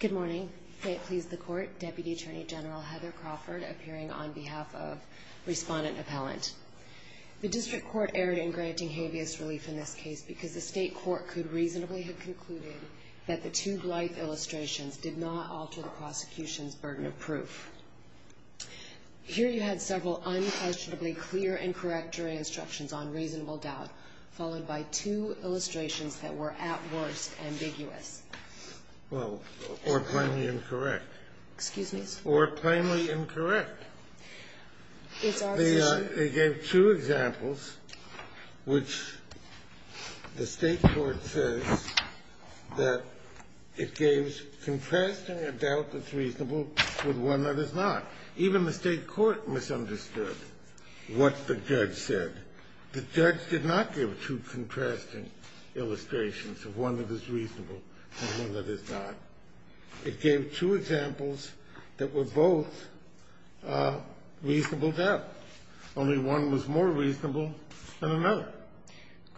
Good morning. May it please the Court, Deputy Attorney General Heather Crawford appearing on behalf of Respondent Appellant. The District Court erred in granting habeas relief in this case because the State Court could reasonably have concluded that the two Blythe illustrations did not alter the prosecution's burden of proof. Here you had several unquestionably clear and correct jury instructions on reasonable doubt, followed by two illustrations that were, at worst, ambiguous. Well, or plainly incorrect. Excuse me? Or plainly incorrect. It's our position. They gave two examples which the State court says that it gave contrasting a doubt that's reasonable with one that is not. Even the State court misunderstood what the judge said. The judge did not give two contrasting illustrations of one that is reasonable and one that is not. It gave two examples that were both reasonable doubt. Only one was more reasonable than another.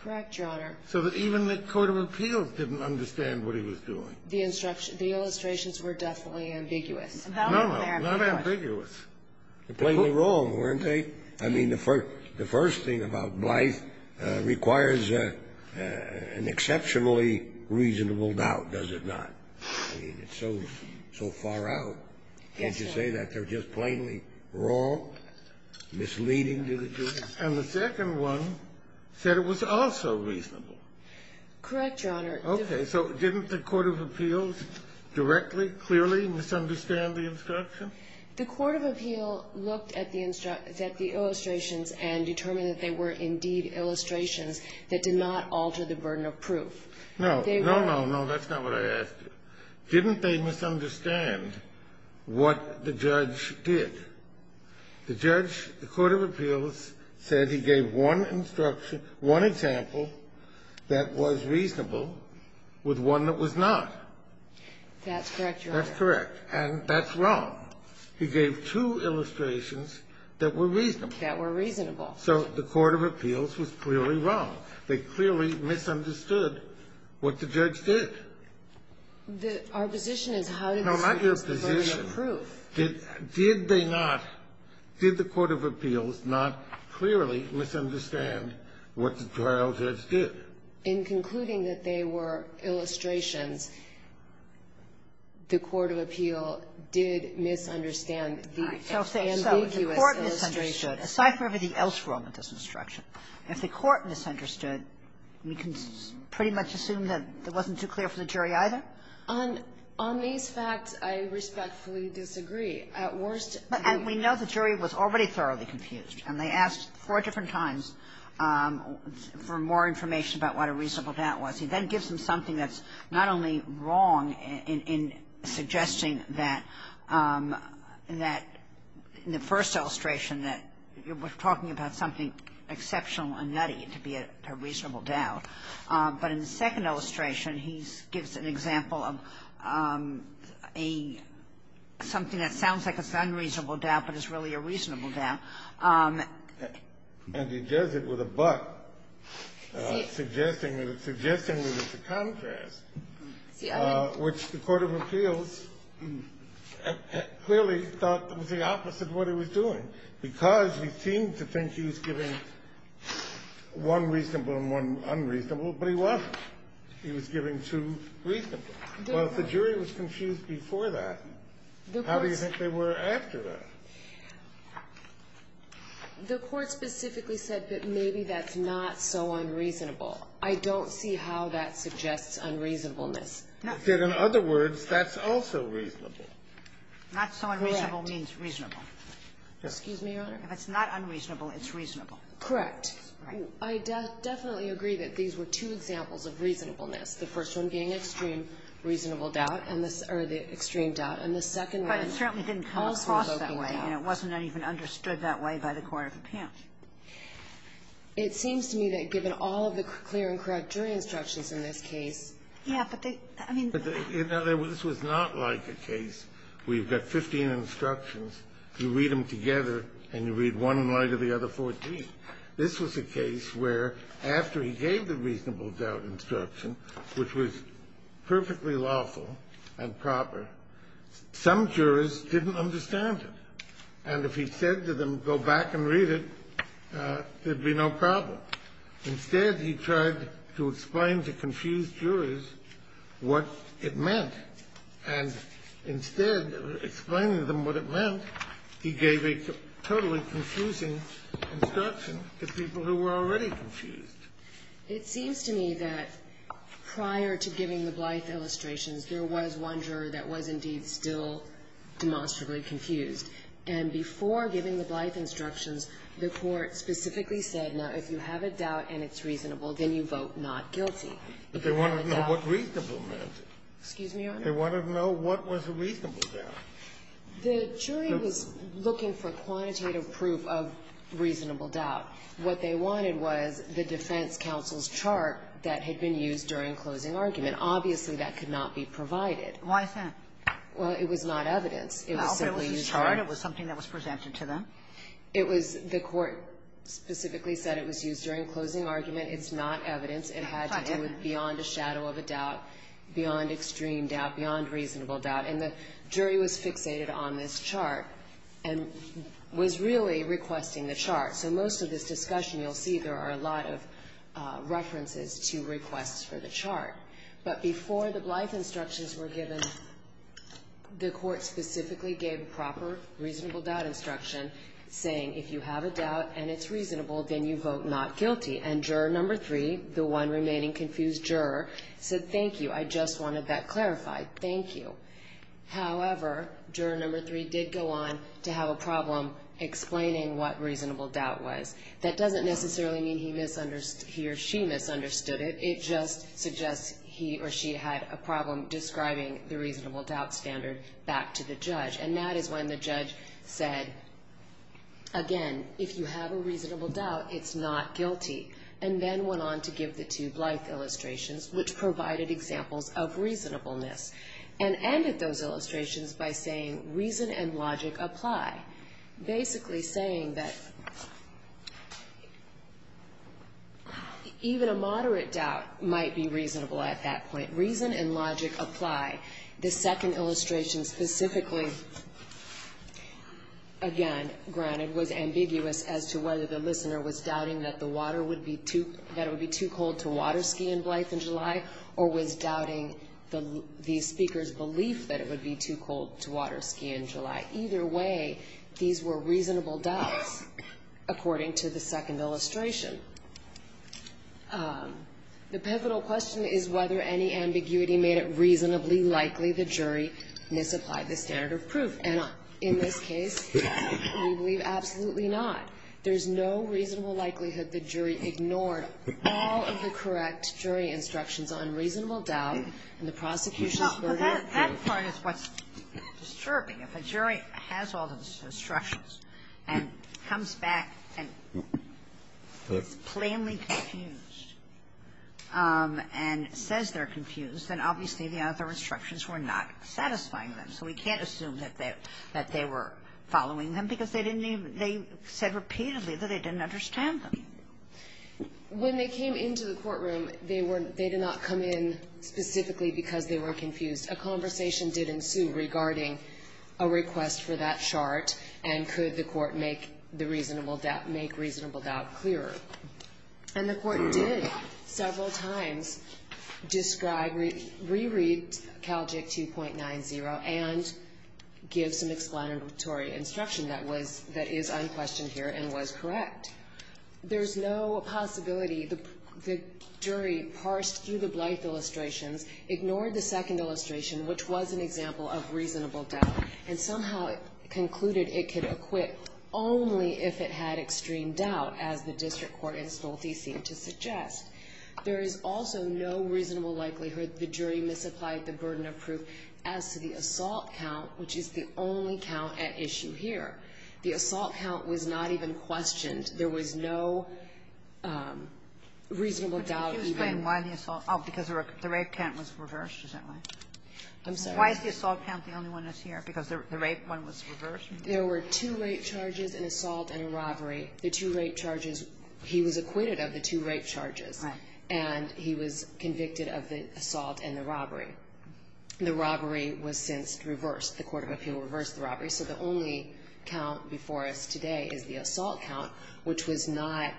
Correct, Your Honor. So that even the court of appeals didn't understand what he was doing. The instruction the illustrations were definitely ambiguous. No, no. Not ambiguous. They're plainly wrong, weren't they? I mean, the first thing about Blythe requires an exceptionally reasonable doubt, does it not? I mean, it's so far out. Yes, Your Honor. Can't you say that they're just plainly wrong, misleading to the jury? And the second one said it was also reasonable. Correct, Your Honor. So didn't the court of appeals directly, clearly misunderstand the instruction? The court of appeal looked at the illustrations and determined that they were indeed illustrations that did not alter the burden of proof. No. No, no, no. That's not what I asked you. Didn't they misunderstand what the judge did? The judge, the court of appeals said he gave one instruction, one example that was reasonable with one that was not. That's correct, Your Honor. That's correct. And that's wrong. He gave two illustrations that were reasonable. That were reasonable. So the court of appeals was clearly wrong. They clearly misunderstood what the judge did. Our position is how did this burden of proof? No, not your position. Did they not, did the court of appeals not clearly misunderstand what the trial judge did? In concluding that they were illustrations, the court of appeal did misunderstand the ambiguous illustration. So if the court misunderstood, aside from everything else wrong with this instruction, if the court misunderstood, we can pretty much assume that it wasn't too clear for the jury either? On these facts, I respectfully disagree. At worst, the jury was already thoroughly confused. And they asked four different times for more information about what a reasonable doubt was. He then gives them something that's not only wrong in suggesting that in the first illustration that we're talking about something exceptional and nutty to be a reasonable doubt. But in the second illustration, he gives an example of something that sounds like it's an unreasonable doubt, but it's really a reasonable doubt. And he does it with a but, suggesting that it's a contrast, which the court of appeals clearly thought was the opposite of what he was doing, because he seemed to think he was giving one reasonable and one unreasonable, but he wasn't. He was giving two reasonable. Well, if the jury was confused before that, how do you think they were after that? The court specifically said that maybe that's not so unreasonable. I don't see how that suggests unreasonableness. In other words, that's also reasonable. Correct. Not so unreasonable means reasonable. Excuse me, Your Honor? If it's not unreasonable, it's reasonable. Correct. I definitely agree that these were two examples of reasonableness, the first one being the extreme reasonable doubt, or the extreme doubt. And the second one also evoked a doubt. But it certainly didn't come across that way, and it wasn't even understood that way by the court of appeals. It seems to me that given all of the clear and correct jury instructions in this case. Yeah, but they, I mean. This was not like a case where you've got 15 instructions, you read them together, and you read one in light of the other 14. This was a case where after he gave the reasonable doubt instruction, which was perfectly lawful and proper, some jurors didn't understand it. And if he said to them, go back and read it, there'd be no problem. Instead, he tried to explain to confused jurors what it meant. And instead of explaining to them what it meant, he gave a totally confusing instruction to people who were already confused. It seems to me that prior to giving the Blythe illustrations, there was one juror that was indeed still demonstrably confused. And before giving the Blythe instructions, the Court specifically said, now, if you have a doubt and it's reasonable, then you vote not guilty. But they wanted to know what reasonable meant. Excuse me, Your Honor? They wanted to know what was a reasonable doubt. The jury was looking for quantitative proof of reasonable doubt. What they wanted was the defense counsel's chart that had been used during closing argument. Obviously, that could not be provided. Why is that? Well, it was not evidence. It was simply a chart. Well, if it was a chart, it was something that was presented to them. It was the Court specifically said it was used during closing argument. It's not evidence. It had to do with beyond a shadow of a doubt. Beyond extreme doubt. Beyond reasonable doubt. And the jury was fixated on this chart and was really requesting the chart. So most of this discussion, you'll see there are a lot of references to requests for the chart. But before the Blythe instructions were given, the Court specifically gave proper reasonable doubt instruction, saying if you have a doubt and it's reasonable, then you vote not guilty. And juror number three, the one remaining confused juror, said, thank you, I just wanted that clarified. Thank you. However, juror number three did go on to have a problem explaining what reasonable doubt was. That doesn't necessarily mean he or she misunderstood it. It just suggests he or she had a problem describing the reasonable doubt standard back to the judge. And that is when the judge said, again, if you have a reasonable doubt, it's not guilty. And then went on to give the two Blythe illustrations, which provided examples of reasonableness. And ended those illustrations by saying, reason and logic apply. Basically saying that even a moderate doubt might be reasonable at that point. Reason and logic apply. The second illustration specifically, again, granted, was ambiguous as to whether the listener was doubting that it would be too cold to water ski in Blythe in July, or was doubting the speaker's belief that it would be too cold to water ski in July. Either way, these were reasonable doubts, according to the second illustration. The pivotal question is whether any ambiguity made it reasonably likely the jury misapplied the standard of proof. And in this case, we believe absolutely not. There's no reasonable likelihood the jury ignored all of the correct jury instructions on reasonable doubt in the prosecution's verdict. Kagan. But that part is what's disturbing. If a jury has all those instructions and comes back and is plainly confused and says they're confused, then obviously the other instructions were not satisfying them, so we can't assume that they were following them because they said repeatedly that they didn't understand them. When they came into the courtroom, they did not come in specifically because they were confused. A conversation did ensue regarding a request for that chart, and could the court make the reasonable doubt, make reasonable doubt clearer. And the court did several times describe, reread CALJIC 2.90 and give some explanatory instruction that was, that is unquestioned here and was correct. There's no possibility the jury parsed through the Blythe illustrations, ignored the second illustration, which was an example of reasonable doubt, and somehow it concluded it could acquit only if it had extreme doubt, as the district court in Stolte seemed to suggest. There is also no reasonable likelihood the jury misapplied the burden of proof as to the assault count, which is the only count at issue here. The assault count was not even questioned. There was no reasonable doubt even. Kagan. Why the assault? Oh, because the rape count was reversed, isn't it? I'm sorry. Why is the assault count the only one that's here? Because the rape one was reversed? There were two rape charges, an assault and a robbery. The two rape charges, he was acquitted of the two rape charges. Right. And he was convicted of the assault and the robbery. The robbery was since reversed. The court of appeal reversed the robbery. So the only count before us today is the assault count, which was not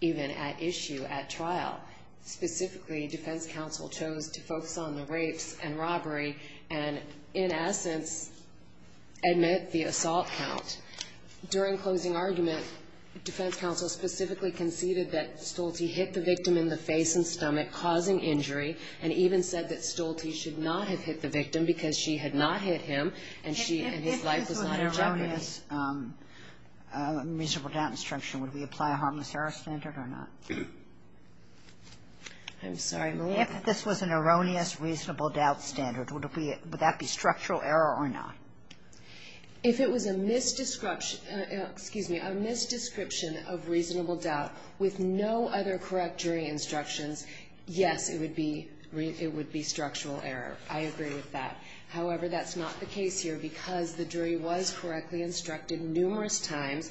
even at issue at trial. Specifically, defense counsel chose to focus on the rapes and robbery and, in essence, admit the assault count. During closing argument, defense counsel specifically conceded that Stolte hit the victim in the face and stomach, causing injury, and even said that Stolte should not have hit the victim because she had not hit him and she and his life was not in jeopardy. If this were an erroneous reasonable doubt instruction, would we apply a harmless error standard or not? I'm sorry. If this was an erroneous reasonable doubt standard, would that be structural error or not? If it was a misdescription of reasonable doubt with no other correct jury instructions, yes, it would be structural error. I agree with that. However, that's not the case here because the jury was correctly instructed numerous times,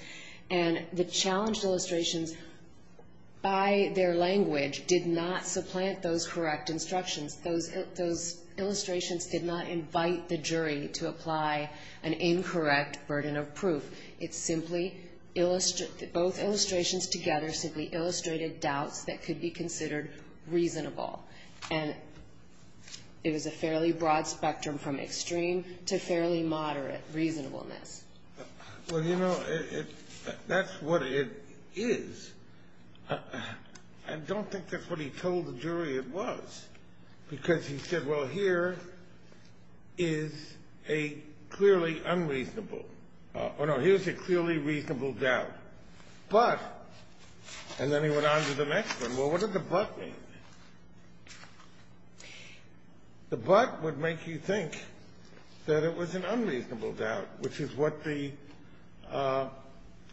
and the challenged illustrations, by their language, did not supplant those correct instructions. Those illustrations did not invite the jury to apply an incorrect burden of proof. It simply illustrated, both illustrations together simply illustrated doubts that could be considered reasonable. And it was a fairly broad spectrum from extreme to fairly moderate reasonableness. Well, you know, that's what it is. I don't think that's what he told the jury it was because he said, well, here is a clearly unreasonable. Oh, no, here's a clearly reasonable doubt. But, and then he went on to the next one. Well, what did the but mean? The but would make you think that it was an unreasonable doubt, which is what the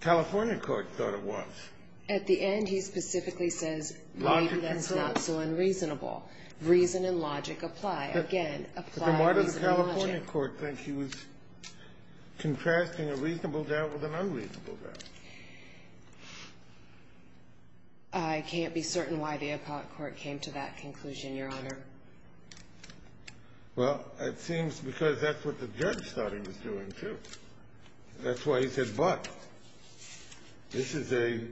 California court thought it was. At the end, he specifically says maybe that's not so unreasonable. Reason and logic apply. Again, apply reason and logic. But then why does the California court think he was contrasting a reasonable doubt with an unreasonable doubt? I can't be certain why the appellate court came to that conclusion, Your Honor. Well, it seems because that's what the judge thought he was doing, too. That's why he said but. This is a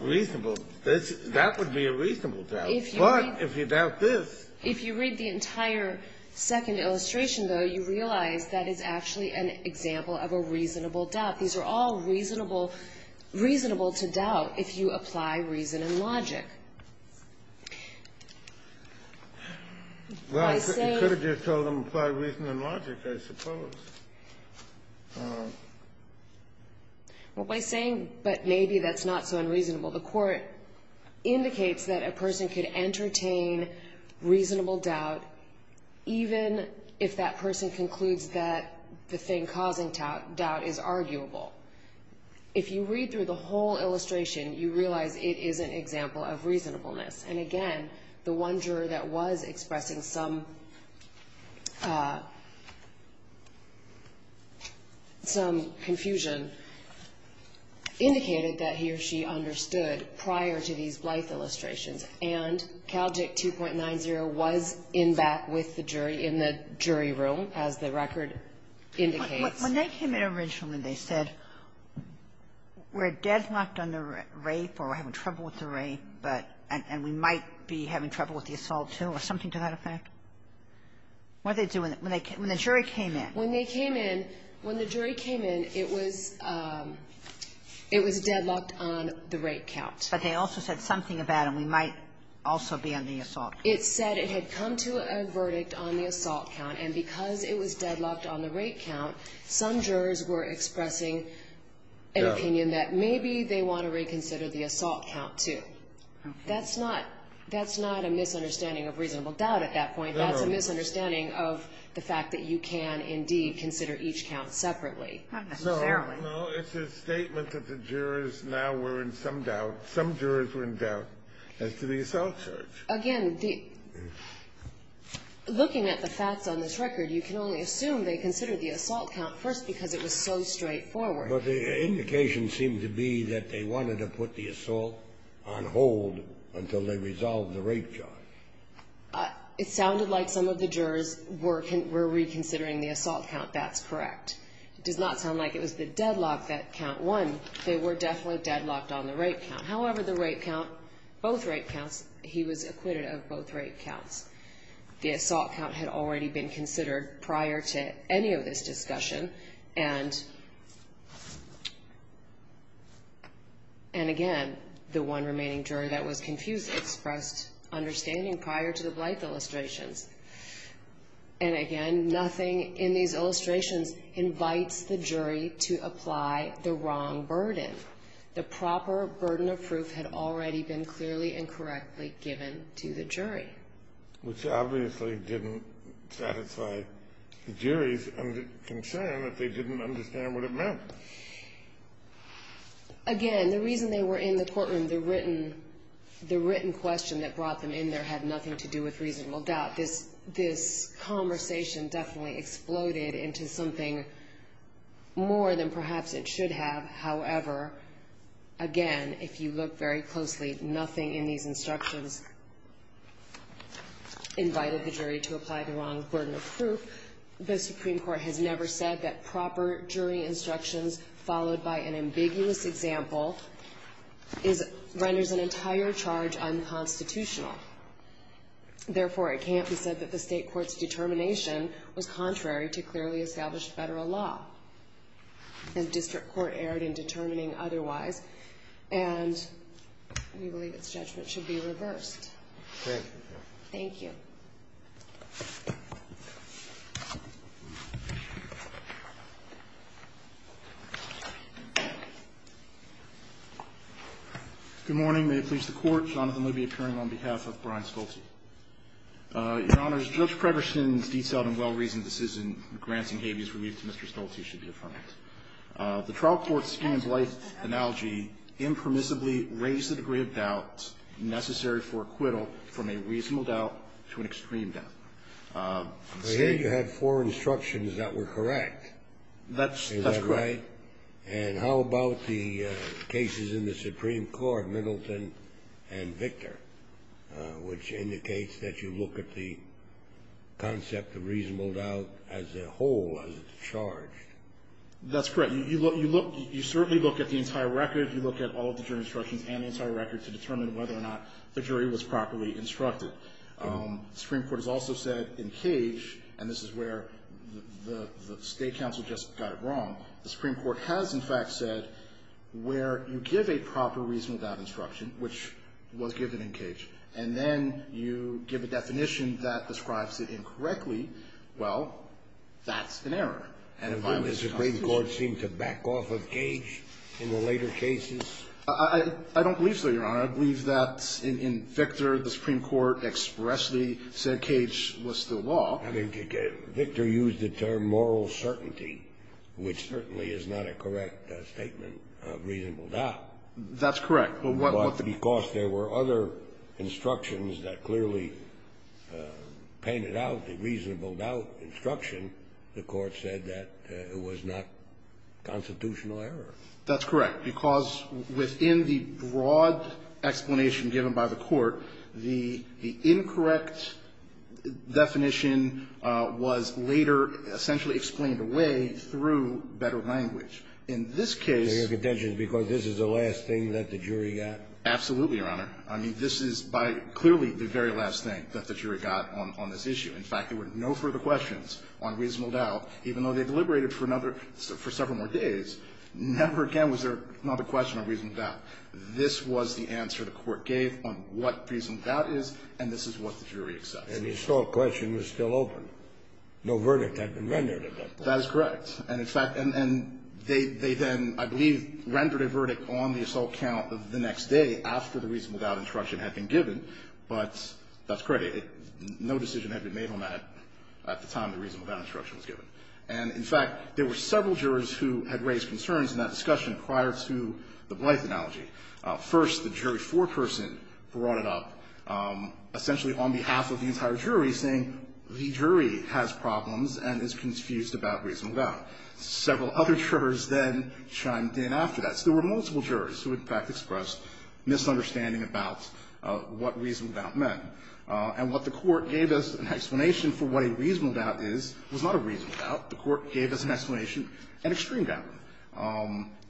reasonable. That would be a reasonable doubt. But if you doubt this. If you read the entire second illustration, though, you realize that is actually an example of a reasonable doubt. These are all reasonable to doubt if you apply reason and logic. By saying. Well, you could have just told them apply reason and logic, I suppose. Well, by saying but maybe that's not so unreasonable, the court indicates that a person could entertain reasonable doubt even if that person concludes that the thing causing doubt is arguable. If you read through the whole illustration, you realize it is an example of reasonableness. And again, the one juror that was expressing some confusion indicated that he or she understood prior to these Blythe illustrations. And Caljit 2.90 was in back with the jury in the jury room, as the record indicates. When they came in originally, they said we're deadlocked on the rape or we're having trouble with the rape, and we might be having trouble with the assault, too, or something to that effect? What did they do when the jury came in? When they came in, when the jury came in, it was deadlocked on the rape count. But they also said something about it, and we might also be on the assault count. It said it had come to a verdict on the assault count, and because it was deadlocked on the rape count, some jurors were expressing an opinion that maybe they want to reconsider the assault count, too. That's not a misunderstanding of reasonable doubt at that point. That's a misunderstanding of the fact that you can indeed consider each count separately. Not necessarily. No, it's a statement that the jurors now were in some doubt. Some jurors were in doubt as to the assault charge. Again, looking at the facts on this record, you can only assume they considered the assault count first because it was so straightforward. But the indication seemed to be that they wanted to put the assault on hold until they resolved the rape charge. It sounded like some of the jurors were reconsidering the assault count. That's correct. It does not sound like it was the deadlock that count one. They were definitely deadlocked on the rape count. However, the rape count, both rape counts, he was acquitted of both rape counts. The assault count had already been considered prior to any of this discussion, and again, the one remaining jury that was confused expressed understanding prior to the Blythe illustrations. And again, nothing in these illustrations invites the jury to apply the wrong burden. The proper burden of proof had already been clearly and correctly given to the jury. Which obviously didn't satisfy the jury's concern that they didn't understand what it meant. Again, the reason they were in the courtroom, the written question that brought them in there had nothing to do with reasonable doubt. This conversation definitely exploded into something more than perhaps it should have. However, again, if you look very closely, nothing in these instructions invited the jury to apply the wrong burden of proof. The Supreme Court has never said that proper jury instructions, followed by an ambiguous example, renders an entire charge unconstitutional. Therefore, it can't be said that the state court's determination was contrary to clearly established federal law. The district court erred in determining otherwise. And we believe its judgment should be reversed. Thank you. Good morning. May it please the Court. Jonathan Libby appearing on behalf of Brian Stolte. Your Honors, Judge Pregerson's detailed and well-reasoned decision, granting habeas relief to Mr. Stolte, should be affirmed. The trial court's human life analogy impermissibly raised the degree of doubt necessary for acquittal from a reasonable doubt to an extreme doubt. I'm saying you had four instructions that were correct. That's correct. Is that right? And how about the cases in the Supreme Court, Middleton and Victor, which indicates that you look at the concept of reasonable doubt as a whole, as it's charged? That's correct. You certainly look at the entire record. You look at all of the jury instructions and the entire record to determine whether or not the jury was properly instructed. The Supreme Court has also said in Cage, and this is where the State Council just got it wrong, the Supreme Court has, in fact, said where you give a proper reasonable doubt instruction, which was given in Cage, and then you give a definition that describes it incorrectly. Well, that's an error, and it violates the Constitution. And does the Supreme Court seem to back off of Cage in the later cases? I don't believe so, Your Honor. I believe that in Victor, the Supreme Court expressly said Cage was still law. I think Victor used the term moral certainty, which certainly is not a correct statement of reasonable doubt. That's correct. But because there were other instructions that clearly painted out the reasonable doubt instruction, the Court said that it was not constitutional error. That's correct. Because within the broad explanation given by the Court, the incorrect definition was later essentially explained away through better language. In this case ---- So your contention is because this is the last thing that the jury got? Absolutely, Your Honor. I mean, this is by clearly the very last thing that the jury got on this issue. In fact, there were no further questions on reasonable doubt, even though they deliberated for another ---- for several more days. Never again was there another question on reasonable doubt. This was the answer the Court gave on what reasonable doubt is, and this is what the jury accepted. And the sole question was still open. No verdict had been rendered at that point. That is correct. And in fact ---- and they then, I believe, rendered a verdict on the assault count the next day after the reasonable doubt instruction had been given. But that's correct. No decision had been made on that at the time the reasonable doubt instruction was given. And in fact, there were several jurors who had raised concerns in that discussion prior to the Blythe analogy. First, the jury foreperson brought it up, essentially on behalf of the entire jury, saying the jury has problems and is confused about reasonable doubt. Several other jurors then chimed in after that. So there were multiple jurors who, in fact, expressed misunderstanding about what reasonable doubt meant. And what the Court gave us an explanation for what a reasonable doubt is was not a reasonable doubt. The Court gave us an explanation, an extreme doubt.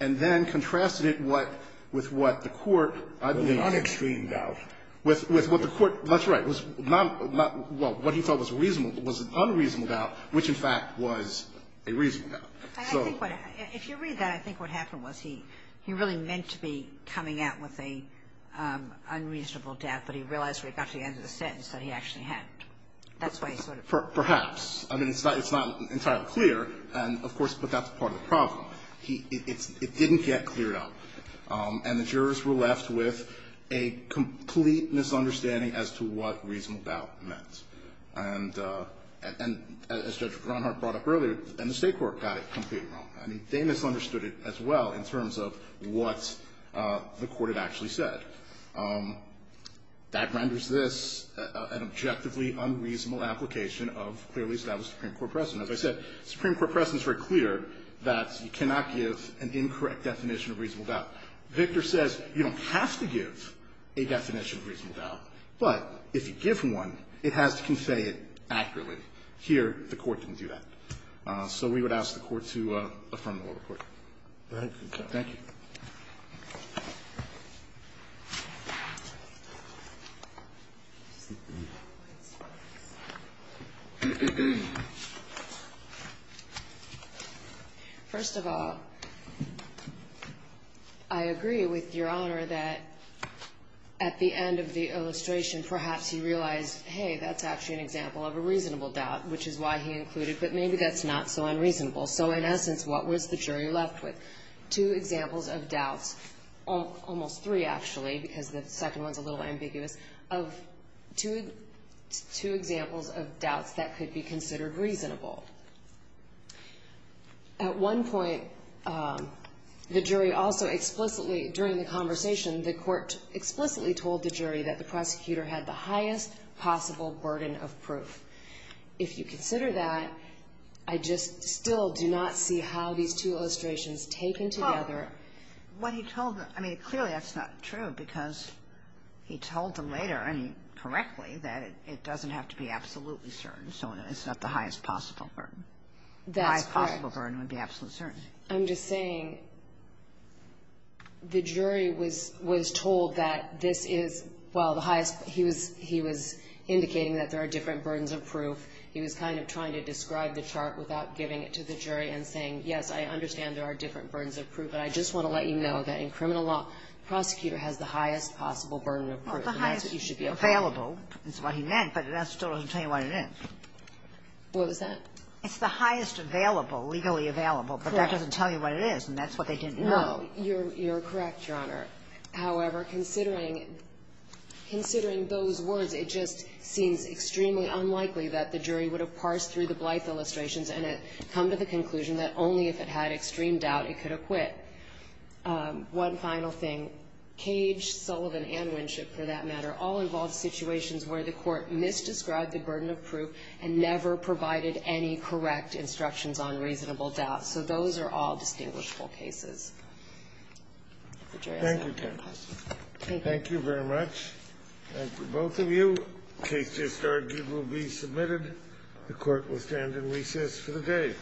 And then contrasted it with what the Court, I believe ---- With an unextreme doubt. With what the Court ---- that's right. Well, what he felt was reasonable was an unreasonable doubt, which, in fact, was a reasonable doubt. So ---- And I think what ---- if you read that, I think what happened was he really meant to be coming out with an unreasonable doubt, but he realized when he got to the end of the sentence that he actually hadn't. That's why he sort of ---- Perhaps. I mean, it's not entirely clear. And, of course, but that's part of the problem. He ---- it didn't get cleared up. And the jurors were left with a complete misunderstanding as to what reasonable doubt meant. And as Judge Ronhart brought up earlier, and the State court got it completely wrong. I mean, they misunderstood it as well in terms of what the Court had actually said. That renders this an objectively unreasonable application of clearly established Supreme Court precedent. As I said, Supreme Court precedent is very clear that you cannot give an incorrect definition of reasonable doubt. Victor says you don't have to give a definition of reasonable doubt, but if you give one, it has to convey it accurately. Here, the Court didn't do that. So we would ask the Court to affirm the lower court. Thank you. First of all, I agree with Your Honor that at the end of the illustration, perhaps he realized, hey, that's actually an example of a reasonable doubt, which is why he included it, but maybe that's not so unreasonable. So in essence, what was the jury left with? Two examples of doubts, almost three, actually, because the second one is a little ambiguous, of two examples of doubts that could be considered reasonable. At one point, the jury also explicitly, during the conversation, the Court explicitly told the jury that the prosecutor had the highest possible burden of proof. If you consider that, I just still do not see how these two illustrations taken together. Well, what he told them, I mean, clearly that's not true, because he told them later, and correctly, that it doesn't have to be absolutely certain, so it's not the highest possible burden. That's correct. The highest possible burden would be absolute certainty. I'm just saying the jury was told that this is, well, the highest, he was indicating that there are different burdens of proof. He was kind of trying to describe the chart without giving it to the jury and saying, yes, I understand there are different burdens of proof, but I just want to let you know that in criminal law, the prosecutor has the highest possible burden of proof, and that's what you should be applying. Well, the highest available is what he meant, but that still doesn't tell you what it is. What was that? It's the highest available, legally available, but that doesn't tell you what it is, and that's what they didn't know. No, you're correct, Your Honor. However, considering those words, it just seems extremely unlikely that the jury would have parsed through the Blythe illustrations and come to the conclusion that only if it had extreme doubt it could acquit. One final thing. Cage, Sullivan, and Winship, for that matter, all involved situations where the Court misdescribed the burden of proof and never provided any correct instructions on reasonable doubt. So those are all distinguishable cases. The jury has no further questions. Thank you. Thank you very much. Thank you, both of you. Case just argued will be submitted. The Court will stand in recess for the day.